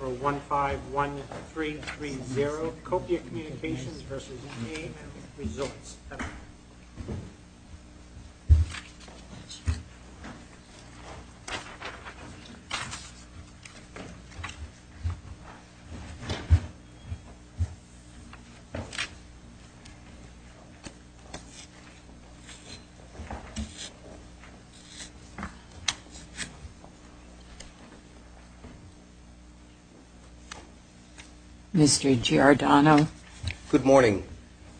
151330 Copia Communications v. AMResorts, LP Mr. Giardano. Good morning.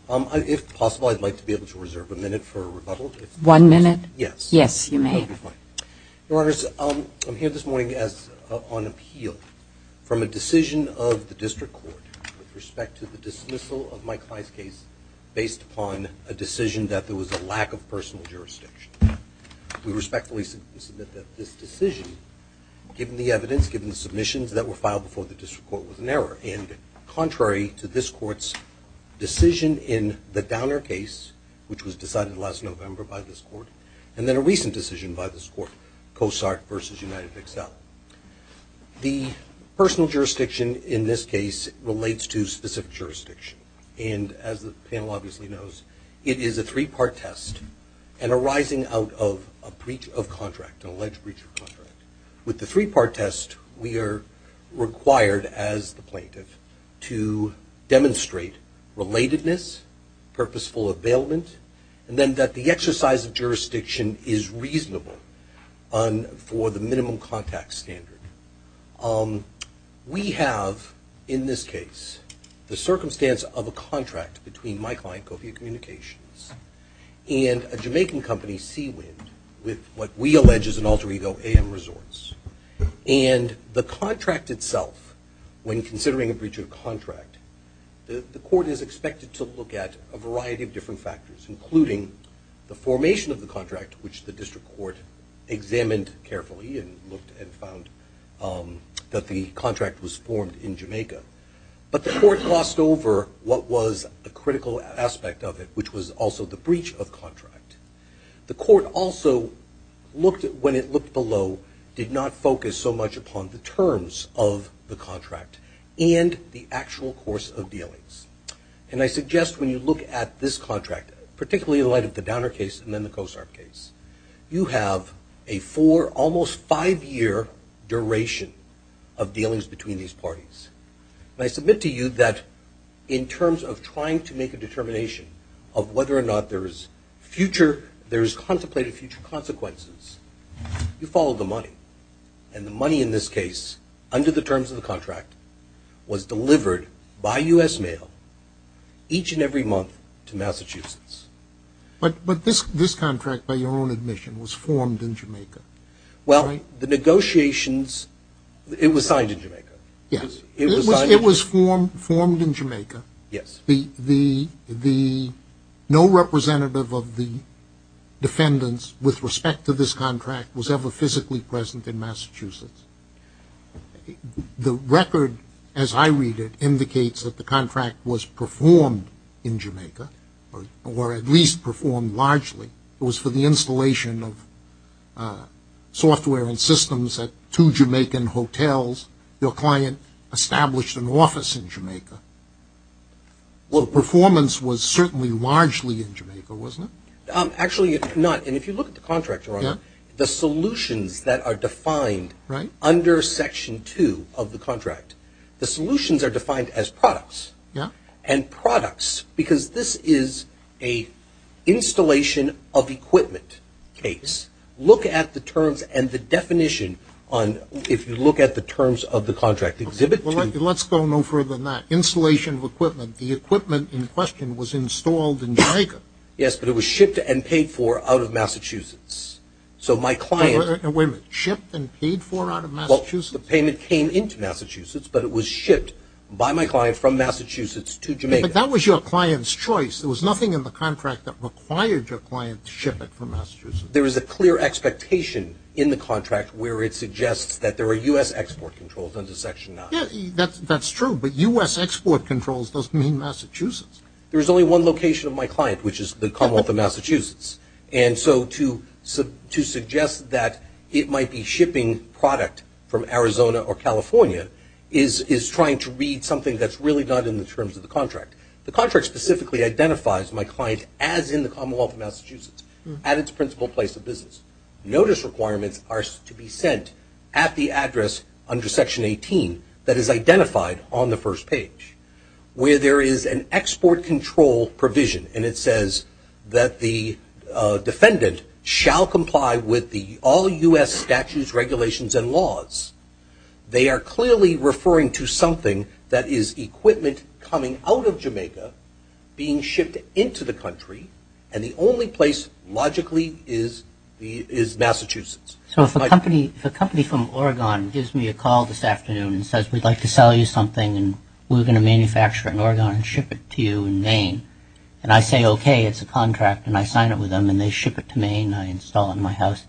If possible, I'd like to be able to reserve a minute for rebuttal. One minute? Yes. Yes, you may. That would be fine. Your Honors, I'm here this morning on appeal from a decision of the District Court with respect to the dismissal of Mike High's case based upon a decision that there was a lack of personal jurisdiction. We respectfully submit that this decision, given the evidence, given the submissions that were filed before the District Court, was an error. And contrary to this Court's decision in the Downer case, which was decided last November by this Court, and then a recent decision by this Court, Cosart v. UnitedXL, the personal jurisdiction in this case relates to specific jurisdiction. And as the panel obviously knows, it is a three-part test and arising out of a breach of contract, an alleged breach of contract. With the three-part test, we are required as the plaintiff to demonstrate relatedness, purposeful availment, and then that the exercise of jurisdiction is reasonable for the minimum contact standard. We have, in this case, the circumstance of a contract between my client, Copia Communications, and a Jamaican company, Seawind, with what we allege is an alter ego, AM Resorts. And the contract itself, when considering a breach of contract, the Court is expected to look at a variety of different factors, including the formation of the contract, which the District Court examined carefully and looked and found that the contract was formed in Jamaica. But the Court glossed over what was a critical aspect of it, which was also the breach of contract. The Court also, when it looked below, did not focus so much upon the terms of the contract and the actual course of dealings. And I suggest when you look at this contract, particularly in light of the Downer case and then the Cosart case, you have a four, almost five-year duration of dealings between these parties. And I submit to you that in terms of trying to make a determination of whether or not there is future, there is contemplated future consequences, you follow the money. And the money in this case, under the terms of the contract, was delivered by U.S. mail each and every month to Massachusetts. But this contract, by your own admission, was formed in Jamaica. Well, the negotiations, it was signed in Jamaica. Yes, it was formed in Jamaica. Yes. No representative of the defendants with respect to this contract was ever physically present in Massachusetts. The record, as I read it, indicates that the contract was performed in Jamaica, or at least performed largely. It was for the installation of software and systems at two Jamaican hotels. Your client established an office in Jamaica. Well, performance was certainly largely in Jamaica, wasn't it? Actually, it's not. And if you look at the contract, Your Honor, the solutions that are defined under Section 2 of the contract, the solutions are defined as products. Yeah. And products, because this is a installation of equipment case. Look at the terms and the definition on, if you look at the terms of the contract, exhibit 2. Let's go no further than that. Installation of equipment, the equipment in question was installed in Jamaica. Yes, but it was shipped and paid for out of Massachusetts. So my client Wait a minute. Shipped and paid for out of Massachusetts? Well, the payment came into Massachusetts, but it was shipped by my client from Massachusetts to Jamaica. But that was your client's choice. There was nothing in the contract that required your client to ship it from Massachusetts. There is a clear expectation in the contract where it suggests that there are U.S. export controls under Section 9. That's true, but U.S. export controls doesn't mean Massachusetts. There is only one location of my client, which is the Commonwealth of Massachusetts. And so to suggest that it might be shipping product from Arizona or California is trying to read something that's really not in the terms of the contract. The contract specifically identifies my client as in the Commonwealth of Massachusetts at its principal place of business. Notice requirements are to be sent at the address under Section 18 that is identified on the first page, where there is an export control provision. And it says that the defendant shall comply with the all U.S. statutes, regulations, and laws. They are clearly referring to something that is equipment coming out of Jamaica being shipped into the country. And the only place logically is Massachusetts. So if a company from Oregon gives me a call this afternoon and says, we'd like to sell you something and we're going to manufacture it in Oregon and ship it to you in Maine, and I say, okay, it's a contract and I sign it with them and they ship it to Maine and I install it in my house,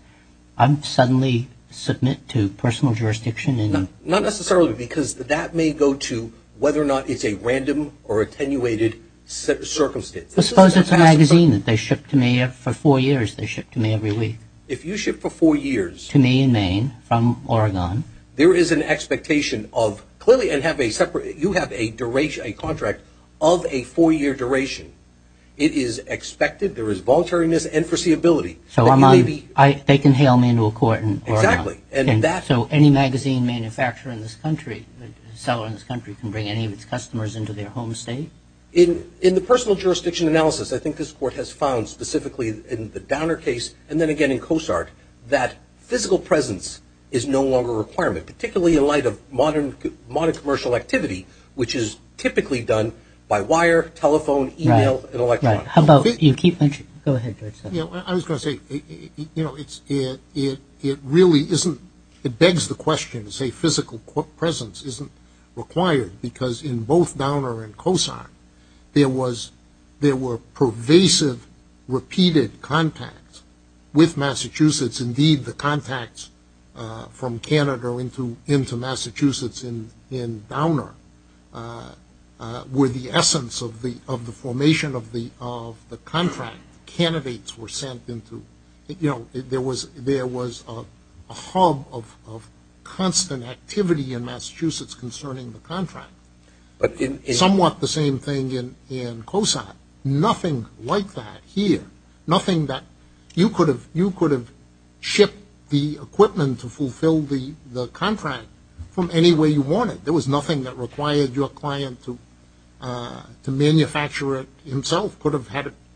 I suddenly submit to personal jurisdiction? Not necessarily, because that may go to whether or not it's a random or attenuated circumstance. Suppose it's a magazine that they ship to me for four years, they ship to me every week. If you ship for four years to me in Maine from Oregon, there is an expectation of clearly and you have a contract of a four-year duration. It is expected, there is voluntariness and foreseeability. So they can hail me into a court in Oregon. Exactly. So any magazine manufacturer in this country, seller in this country, can bring any of its customers into their home state? In the personal jurisdiction analysis, I think this Court has found specifically in the Downer case and then again in COSART, that physical presence is no longer a requirement, particularly in light of modern commercial activity, which is typically done by wire, telephone, e-mail, and electronic. How about you, Keith, go ahead. I was going to say, you know, it really isn't, it begs the question to say physical presence isn't required, because in both Downer and COSART, there were pervasive, repeated contacts with Massachusetts. Indeed, the contacts from Canada into Massachusetts in Downer were the essence of the formation of the contract. Candidates were sent into, you know, there was a hub of constant activity in Massachusetts concerning the contract. Somewhat the same thing in COSART. Nothing like that here. Nothing that you could have shipped the equipment to fulfill the contract from any way you wanted. There was nothing that required your client to manufacture it himself. It could have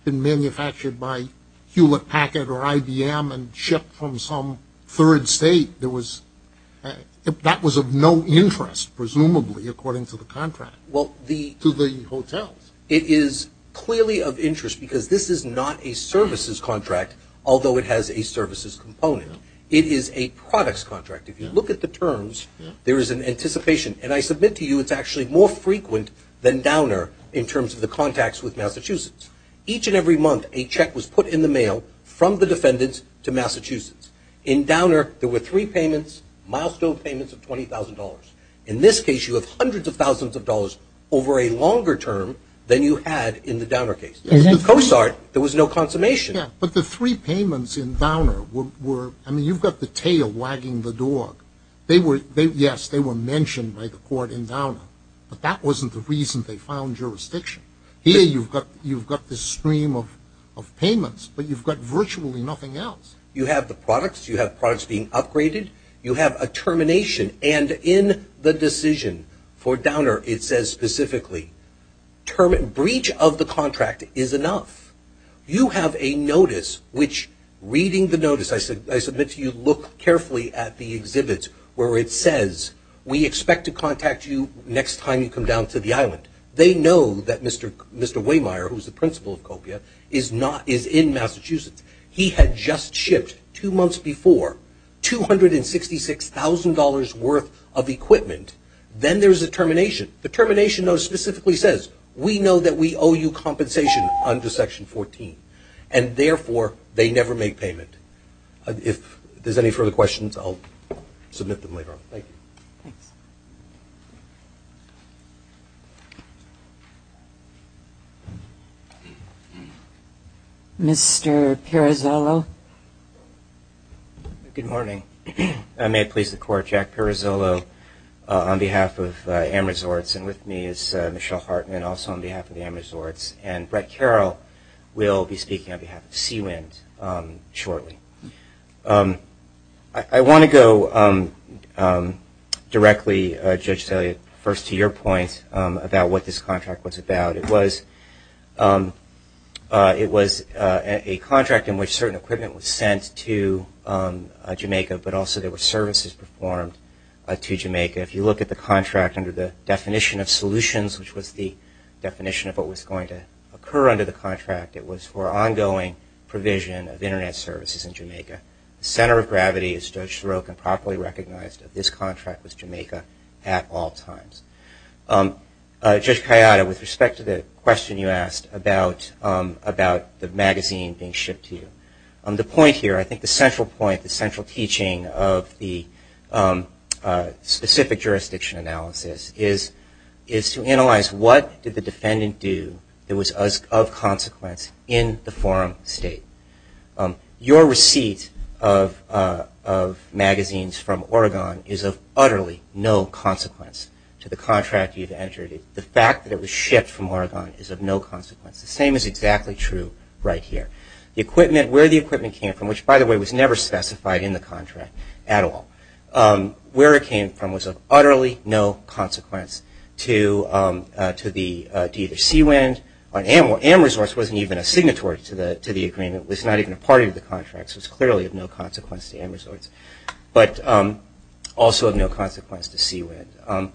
been manufactured by Hewlett Packard or IBM and shipped from some third state. That was of no interest, presumably, according to the contract, to the hotels. It is clearly of interest because this is not a services contract, although it has a services component. It is a products contract. If you look at the terms, there is an anticipation, and I submit to you it's actually more frequent than Downer in terms of the contacts with Massachusetts. Each and every month, a check was put in the mail from the defendants to Massachusetts. In Downer, there were three payments, milestone payments of $20,000. In this case, you have hundreds of thousands of dollars over a longer term than you had in the Downer case. In COSART, there was no consummation. But the three payments in Downer were, I mean, you've got the tail wagging the dog. Yes, they were mentioned by the court in Downer, but that wasn't the reason they found jurisdiction. Here, you've got this stream of payments, but you've got virtually nothing else. You have the products, you have products being upgraded, you have a termination, and in the decision for Downer, it says specifically, breach of the contract is enough. You have a notice which, reading the notice, I submit to you, look carefully at the exhibit where it says, we expect to contact you next time you come down to the island. They know that Mr. Waymire, who is the principal of COPIA, is in Massachusetts. He had just shipped, two months before, $266,000 worth of equipment. Then there's a termination. The termination note specifically says, we know that we owe you compensation under Section 14, and therefore, they never make payment. If there's any further questions, I'll submit them later on. Thank you. Thanks. Mr. Pirazzolo. Good morning. May it please the Court, Jack Pirazzolo on behalf of AMRESORTS, and with me is Michelle Hartman, also on behalf of AMRESORTS, and Brett Carroll will be speaking on behalf of SeaWind shortly. I want to go directly, Judge Thalia, first to your point about what this contract was about. It was a contract in which certain equipment was sent to Jamaica, but also there were services performed to Jamaica. If you look at the contract under the definition of solutions, which was the definition of what was going to occur under the contract, it was for ongoing provision of Internet services in Jamaica. The center of gravity, as Judge Sorokin properly recognized, of this contract was Jamaica at all times. Judge Kayada, with respect to the question you asked about the magazine being shipped to you, the point here, I think the central point, the central teaching of the specific jurisdiction analysis is to analyze what did the defendant do that was of consequence in the forum state. Your receipt of magazines from Oregon is of utterly no consequence to the contract you've entered. The fact that it was shipped from Oregon is of no consequence. The same is exactly true right here. The equipment, where the equipment came from, which by the way was never specified in the contract at all, where it came from was of utterly no consequence to either SeaWind or AMRESORTS. AMRESORTS wasn't even a signatory to the agreement. It was not even a part of the contract, so it's clearly of no consequence to AMRESORTS, but also of no consequence to SeaWind.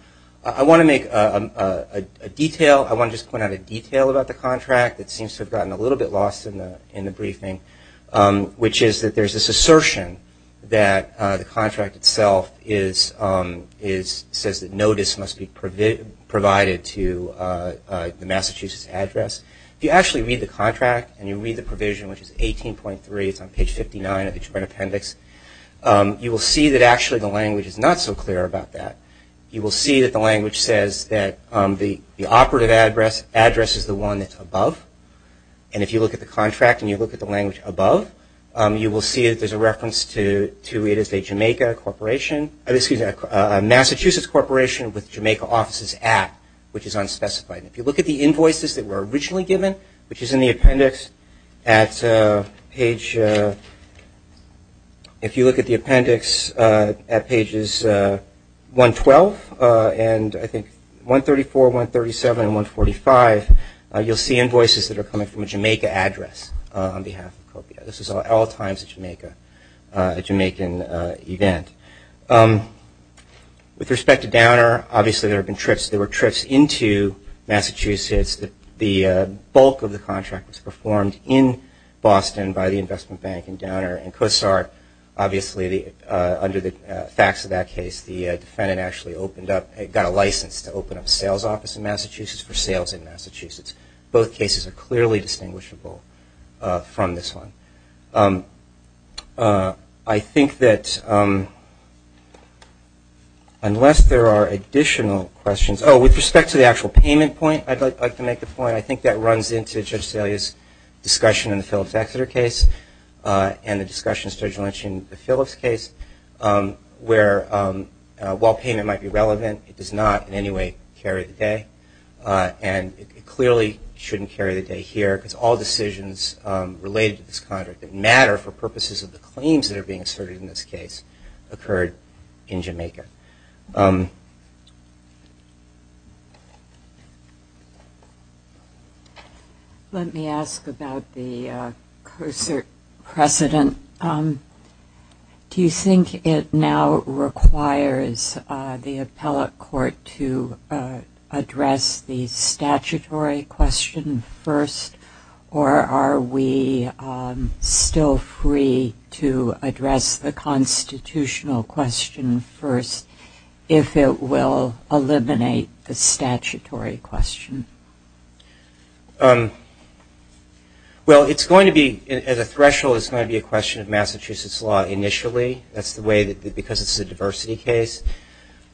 I want to make a detail, I want to just point out a detail about the contract that seems to have gotten a little bit lost in the briefing, which is that there's this assertion that the contract itself is, says that notice must be provided to the Massachusetts address. If you actually read the contract and you read the provision, which is 18.3, it's on page 59 of the Japan appendix, you will see that actually the language is not so clear about that. You will see that the language says that the operative address is the one that's above, and if you look at the contract and you look at the language above, you will see that there's a reference to it as a Jamaica corporation, excuse me, a Massachusetts corporation with Jamaica offices at, which is unspecified. If you look at the invoices that were originally given, which is in the appendix at page, if you look at the appendix at pages 112 and I think 134, 137, and 145, you'll see invoices that are coming from a Jamaica address on behalf of COPIA. This is at all times a Jamaica, a Jamaican event. With respect to downer, obviously there have been trips. There were trips into Massachusetts. The bulk of the contract was performed in Boston by the investment bank and downer. And COSAR, obviously under the facts of that case, the defendant actually opened up, got a license to open up a sales office in Massachusetts for sales in Massachusetts. Both cases are clearly distinguishable from this one. I think that unless there are additional questions. Oh, with respect to the actual payment point, I'd like to make a point. I think that runs into Judge Salia's discussion in the Phillips-Exeter case and the discussions Judge Lynch in the Phillips case where while payment might be relevant, it does not in any way carry the day. And it clearly shouldn't carry the day here because all decisions related to this contract that matter for purposes of the claims that are being asserted in this case occurred in Jamaica. Let me ask about the COSAR precedent. Do you think it now requires the appellate court to address the statutory question first, or are we still free to address the constitutional question first if it will eliminate the statutory question? Well, it's going to be, as a threshold, it's going to be a question of Massachusetts law initially. That's the way that because it's a diversity case.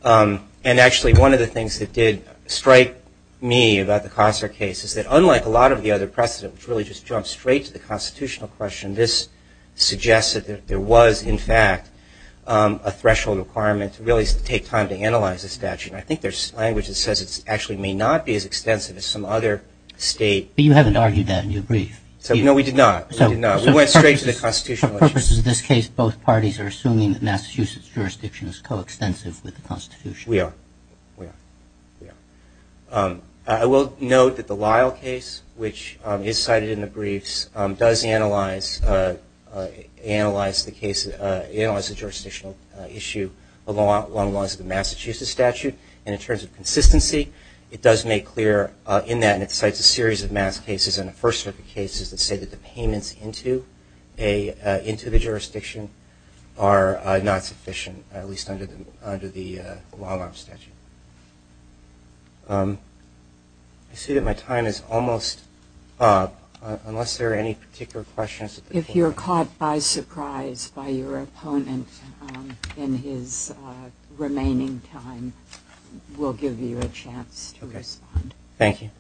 And actually one of the things that did strike me about the COSAR case is that unlike a lot of the other precedents which really just jump straight to the constitutional question, this suggests that there was, in fact, a threshold requirement to really take time to analyze the statute. And I think there's language that says it actually may not be as extensive as some other state. But you haven't argued that in your brief. No, we did not. We went straight to the constitutional issue. For purposes of this case, both parties are assuming that Massachusetts jurisdiction is coextensive with the Constitution. We are. We are. I will note that the Lyle case, which is cited in the briefs, does analyze the jurisdictional issue along the lines of the Massachusetts statute. And in terms of consistency, it does make clear in that, and it cites a series of mass cases in the First Circuit cases that say that the payments into the jurisdiction are not sufficient, at least under the long-arm statute. I see that my time is almost up, unless there are any particular questions. If you're caught by surprise by your opponent in his remaining time, we'll give you a chance to respond. Thank you.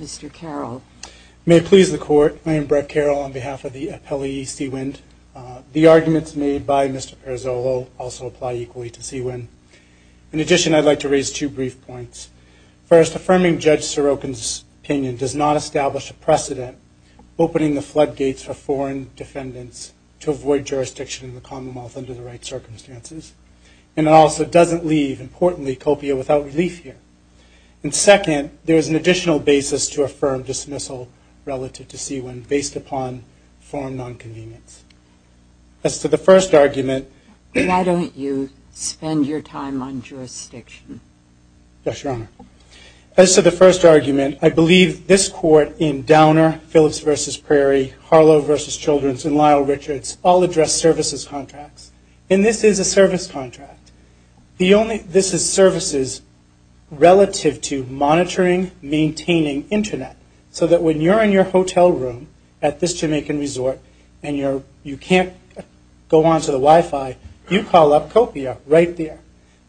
Mr. Carroll. May it please the Court, my name is Brett Carroll on behalf of the appellee, Seawind. The arguments made by Mr. Perizzolo also apply equally to Seawind. In addition, I'd like to raise two brief points. First, affirming Judge Sorokin's opinion does not establish a precedent opening the floodgates for foreign defendants to avoid jurisdiction in the Commonwealth under the right circumstances, and it also doesn't leave, importantly, Copia without relief here. And second, there is an additional basis to affirm dismissal relative to Seawind based upon foreign nonconvenience. As to the first argument... Why don't you spend your time on jurisdiction? Yes, Your Honor. As to the first argument, I believe this Court in Downer, Phillips v. Prairie, Harlow v. Children's, and Lyle Richards all address services contracts, and this is a service contract. This is services relative to monitoring, maintaining Internet, so that when you're in your hotel room at this Jamaican resort and you can't go onto the Wi-Fi, you call up Copia right there.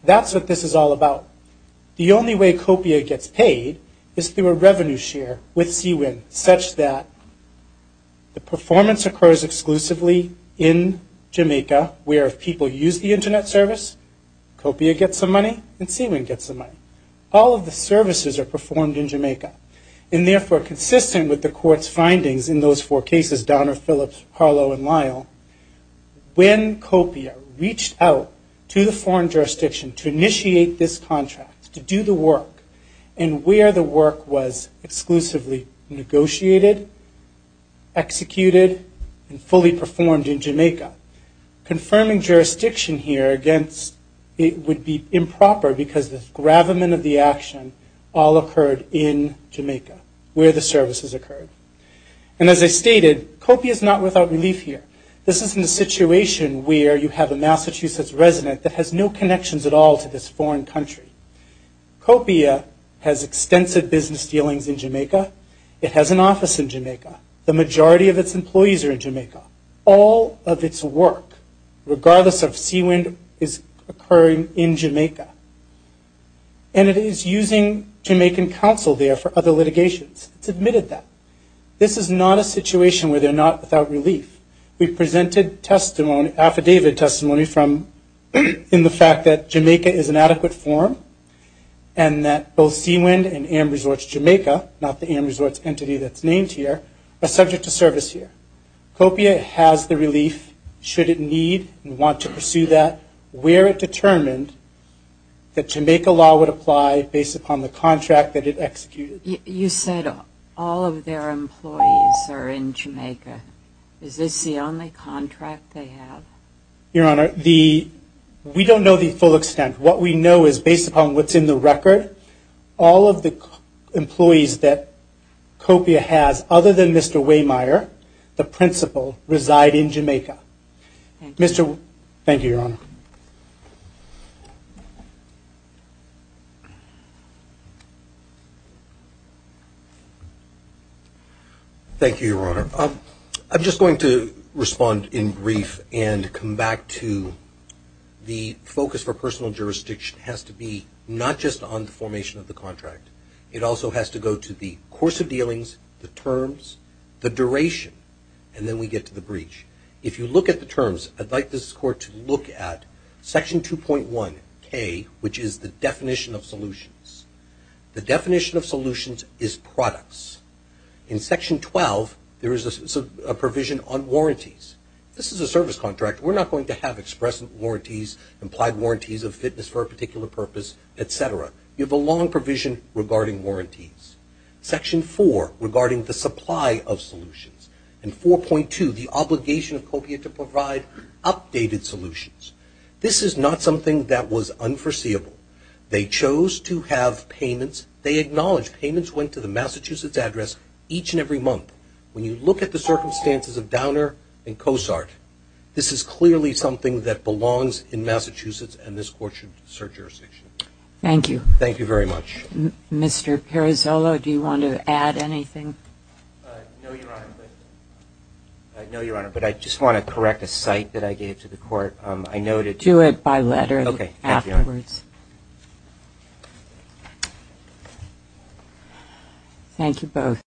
That's what this is all about. The only way Copia gets paid is through a revenue share with Seawind, such that the performance occurs exclusively in Jamaica, where if people use the Internet service, Copia gets the money and Seawind gets the money. All of the services are performed in Jamaica. And therefore, consistent with the Court's findings in those four cases, Downer, Phillips, Harlow, and Lyle, when Copia reached out to the foreign jurisdiction to initiate this contract to do the work and where the work was exclusively negotiated, executed, and fully performed in Jamaica, confirming jurisdiction here against it would be improper because the gravamen of the action all occurred in Jamaica, where the services occurred. And as I stated, Copia is not without relief here. This isn't a situation where you have a Massachusetts resident that has no connections at all to this foreign country. Copia has extensive business dealings in Jamaica. It has an office in Jamaica. The majority of its employees are in Jamaica. All of its work, regardless of Seawind, is occurring in Jamaica. And it is using Jamaican counsel there for other litigations. It's admitted that. This is not a situation where they're not without relief. We presented affidavit testimony in the fact that Jamaica is an adequate forum and that both Seawind and AmResorts Jamaica, not the AmResorts entity that's named here, are subject to service here. Copia has the relief, should it need and want to pursue that, where it determined that Jamaica law would apply based upon the contract that it executed. You said all of their employees are in Jamaica. Is this the only contract they have? Your Honor, we don't know the full extent. What we know is, based upon what's in the record, all of the employees that Copia has, other than Mr. Waymire, the principal, reside in Jamaica. Thank you, Your Honor. Thank you, Your Honor. I'm just going to respond in brief and come back to the focus for personal jurisdiction has to be not just on the formation of the contract. It also has to go to the course of dealings, the terms, the duration, and then we get to the breach. If you look at the terms, I'd like this Court to look at Section 2.1K, which is the definition of solutions. The definition of solutions is products. In Section 12, there is a provision on warranties. This is a service contract. We're not going to have express warranties, implied warranties of fitness for a particular purpose, et cetera. You have a long provision regarding warranties. Section 4, regarding the supply of solutions, and 4.2, the obligation of Copia to provide updated solutions. This is not something that was unforeseeable. They chose to have payments. They acknowledge payments went to the Massachusetts address each and every month. When you look at the circumstances of Downer and Cosart, this is clearly something that belongs in Massachusetts, and this Court should search jurisdiction. Thank you. Thank you very much. Mr. Perizzolo, do you want to add anything? No, Your Honor. No, Your Honor, but I just want to correct a cite that I gave to the Court. Do it by letter afterwards. Thank you both.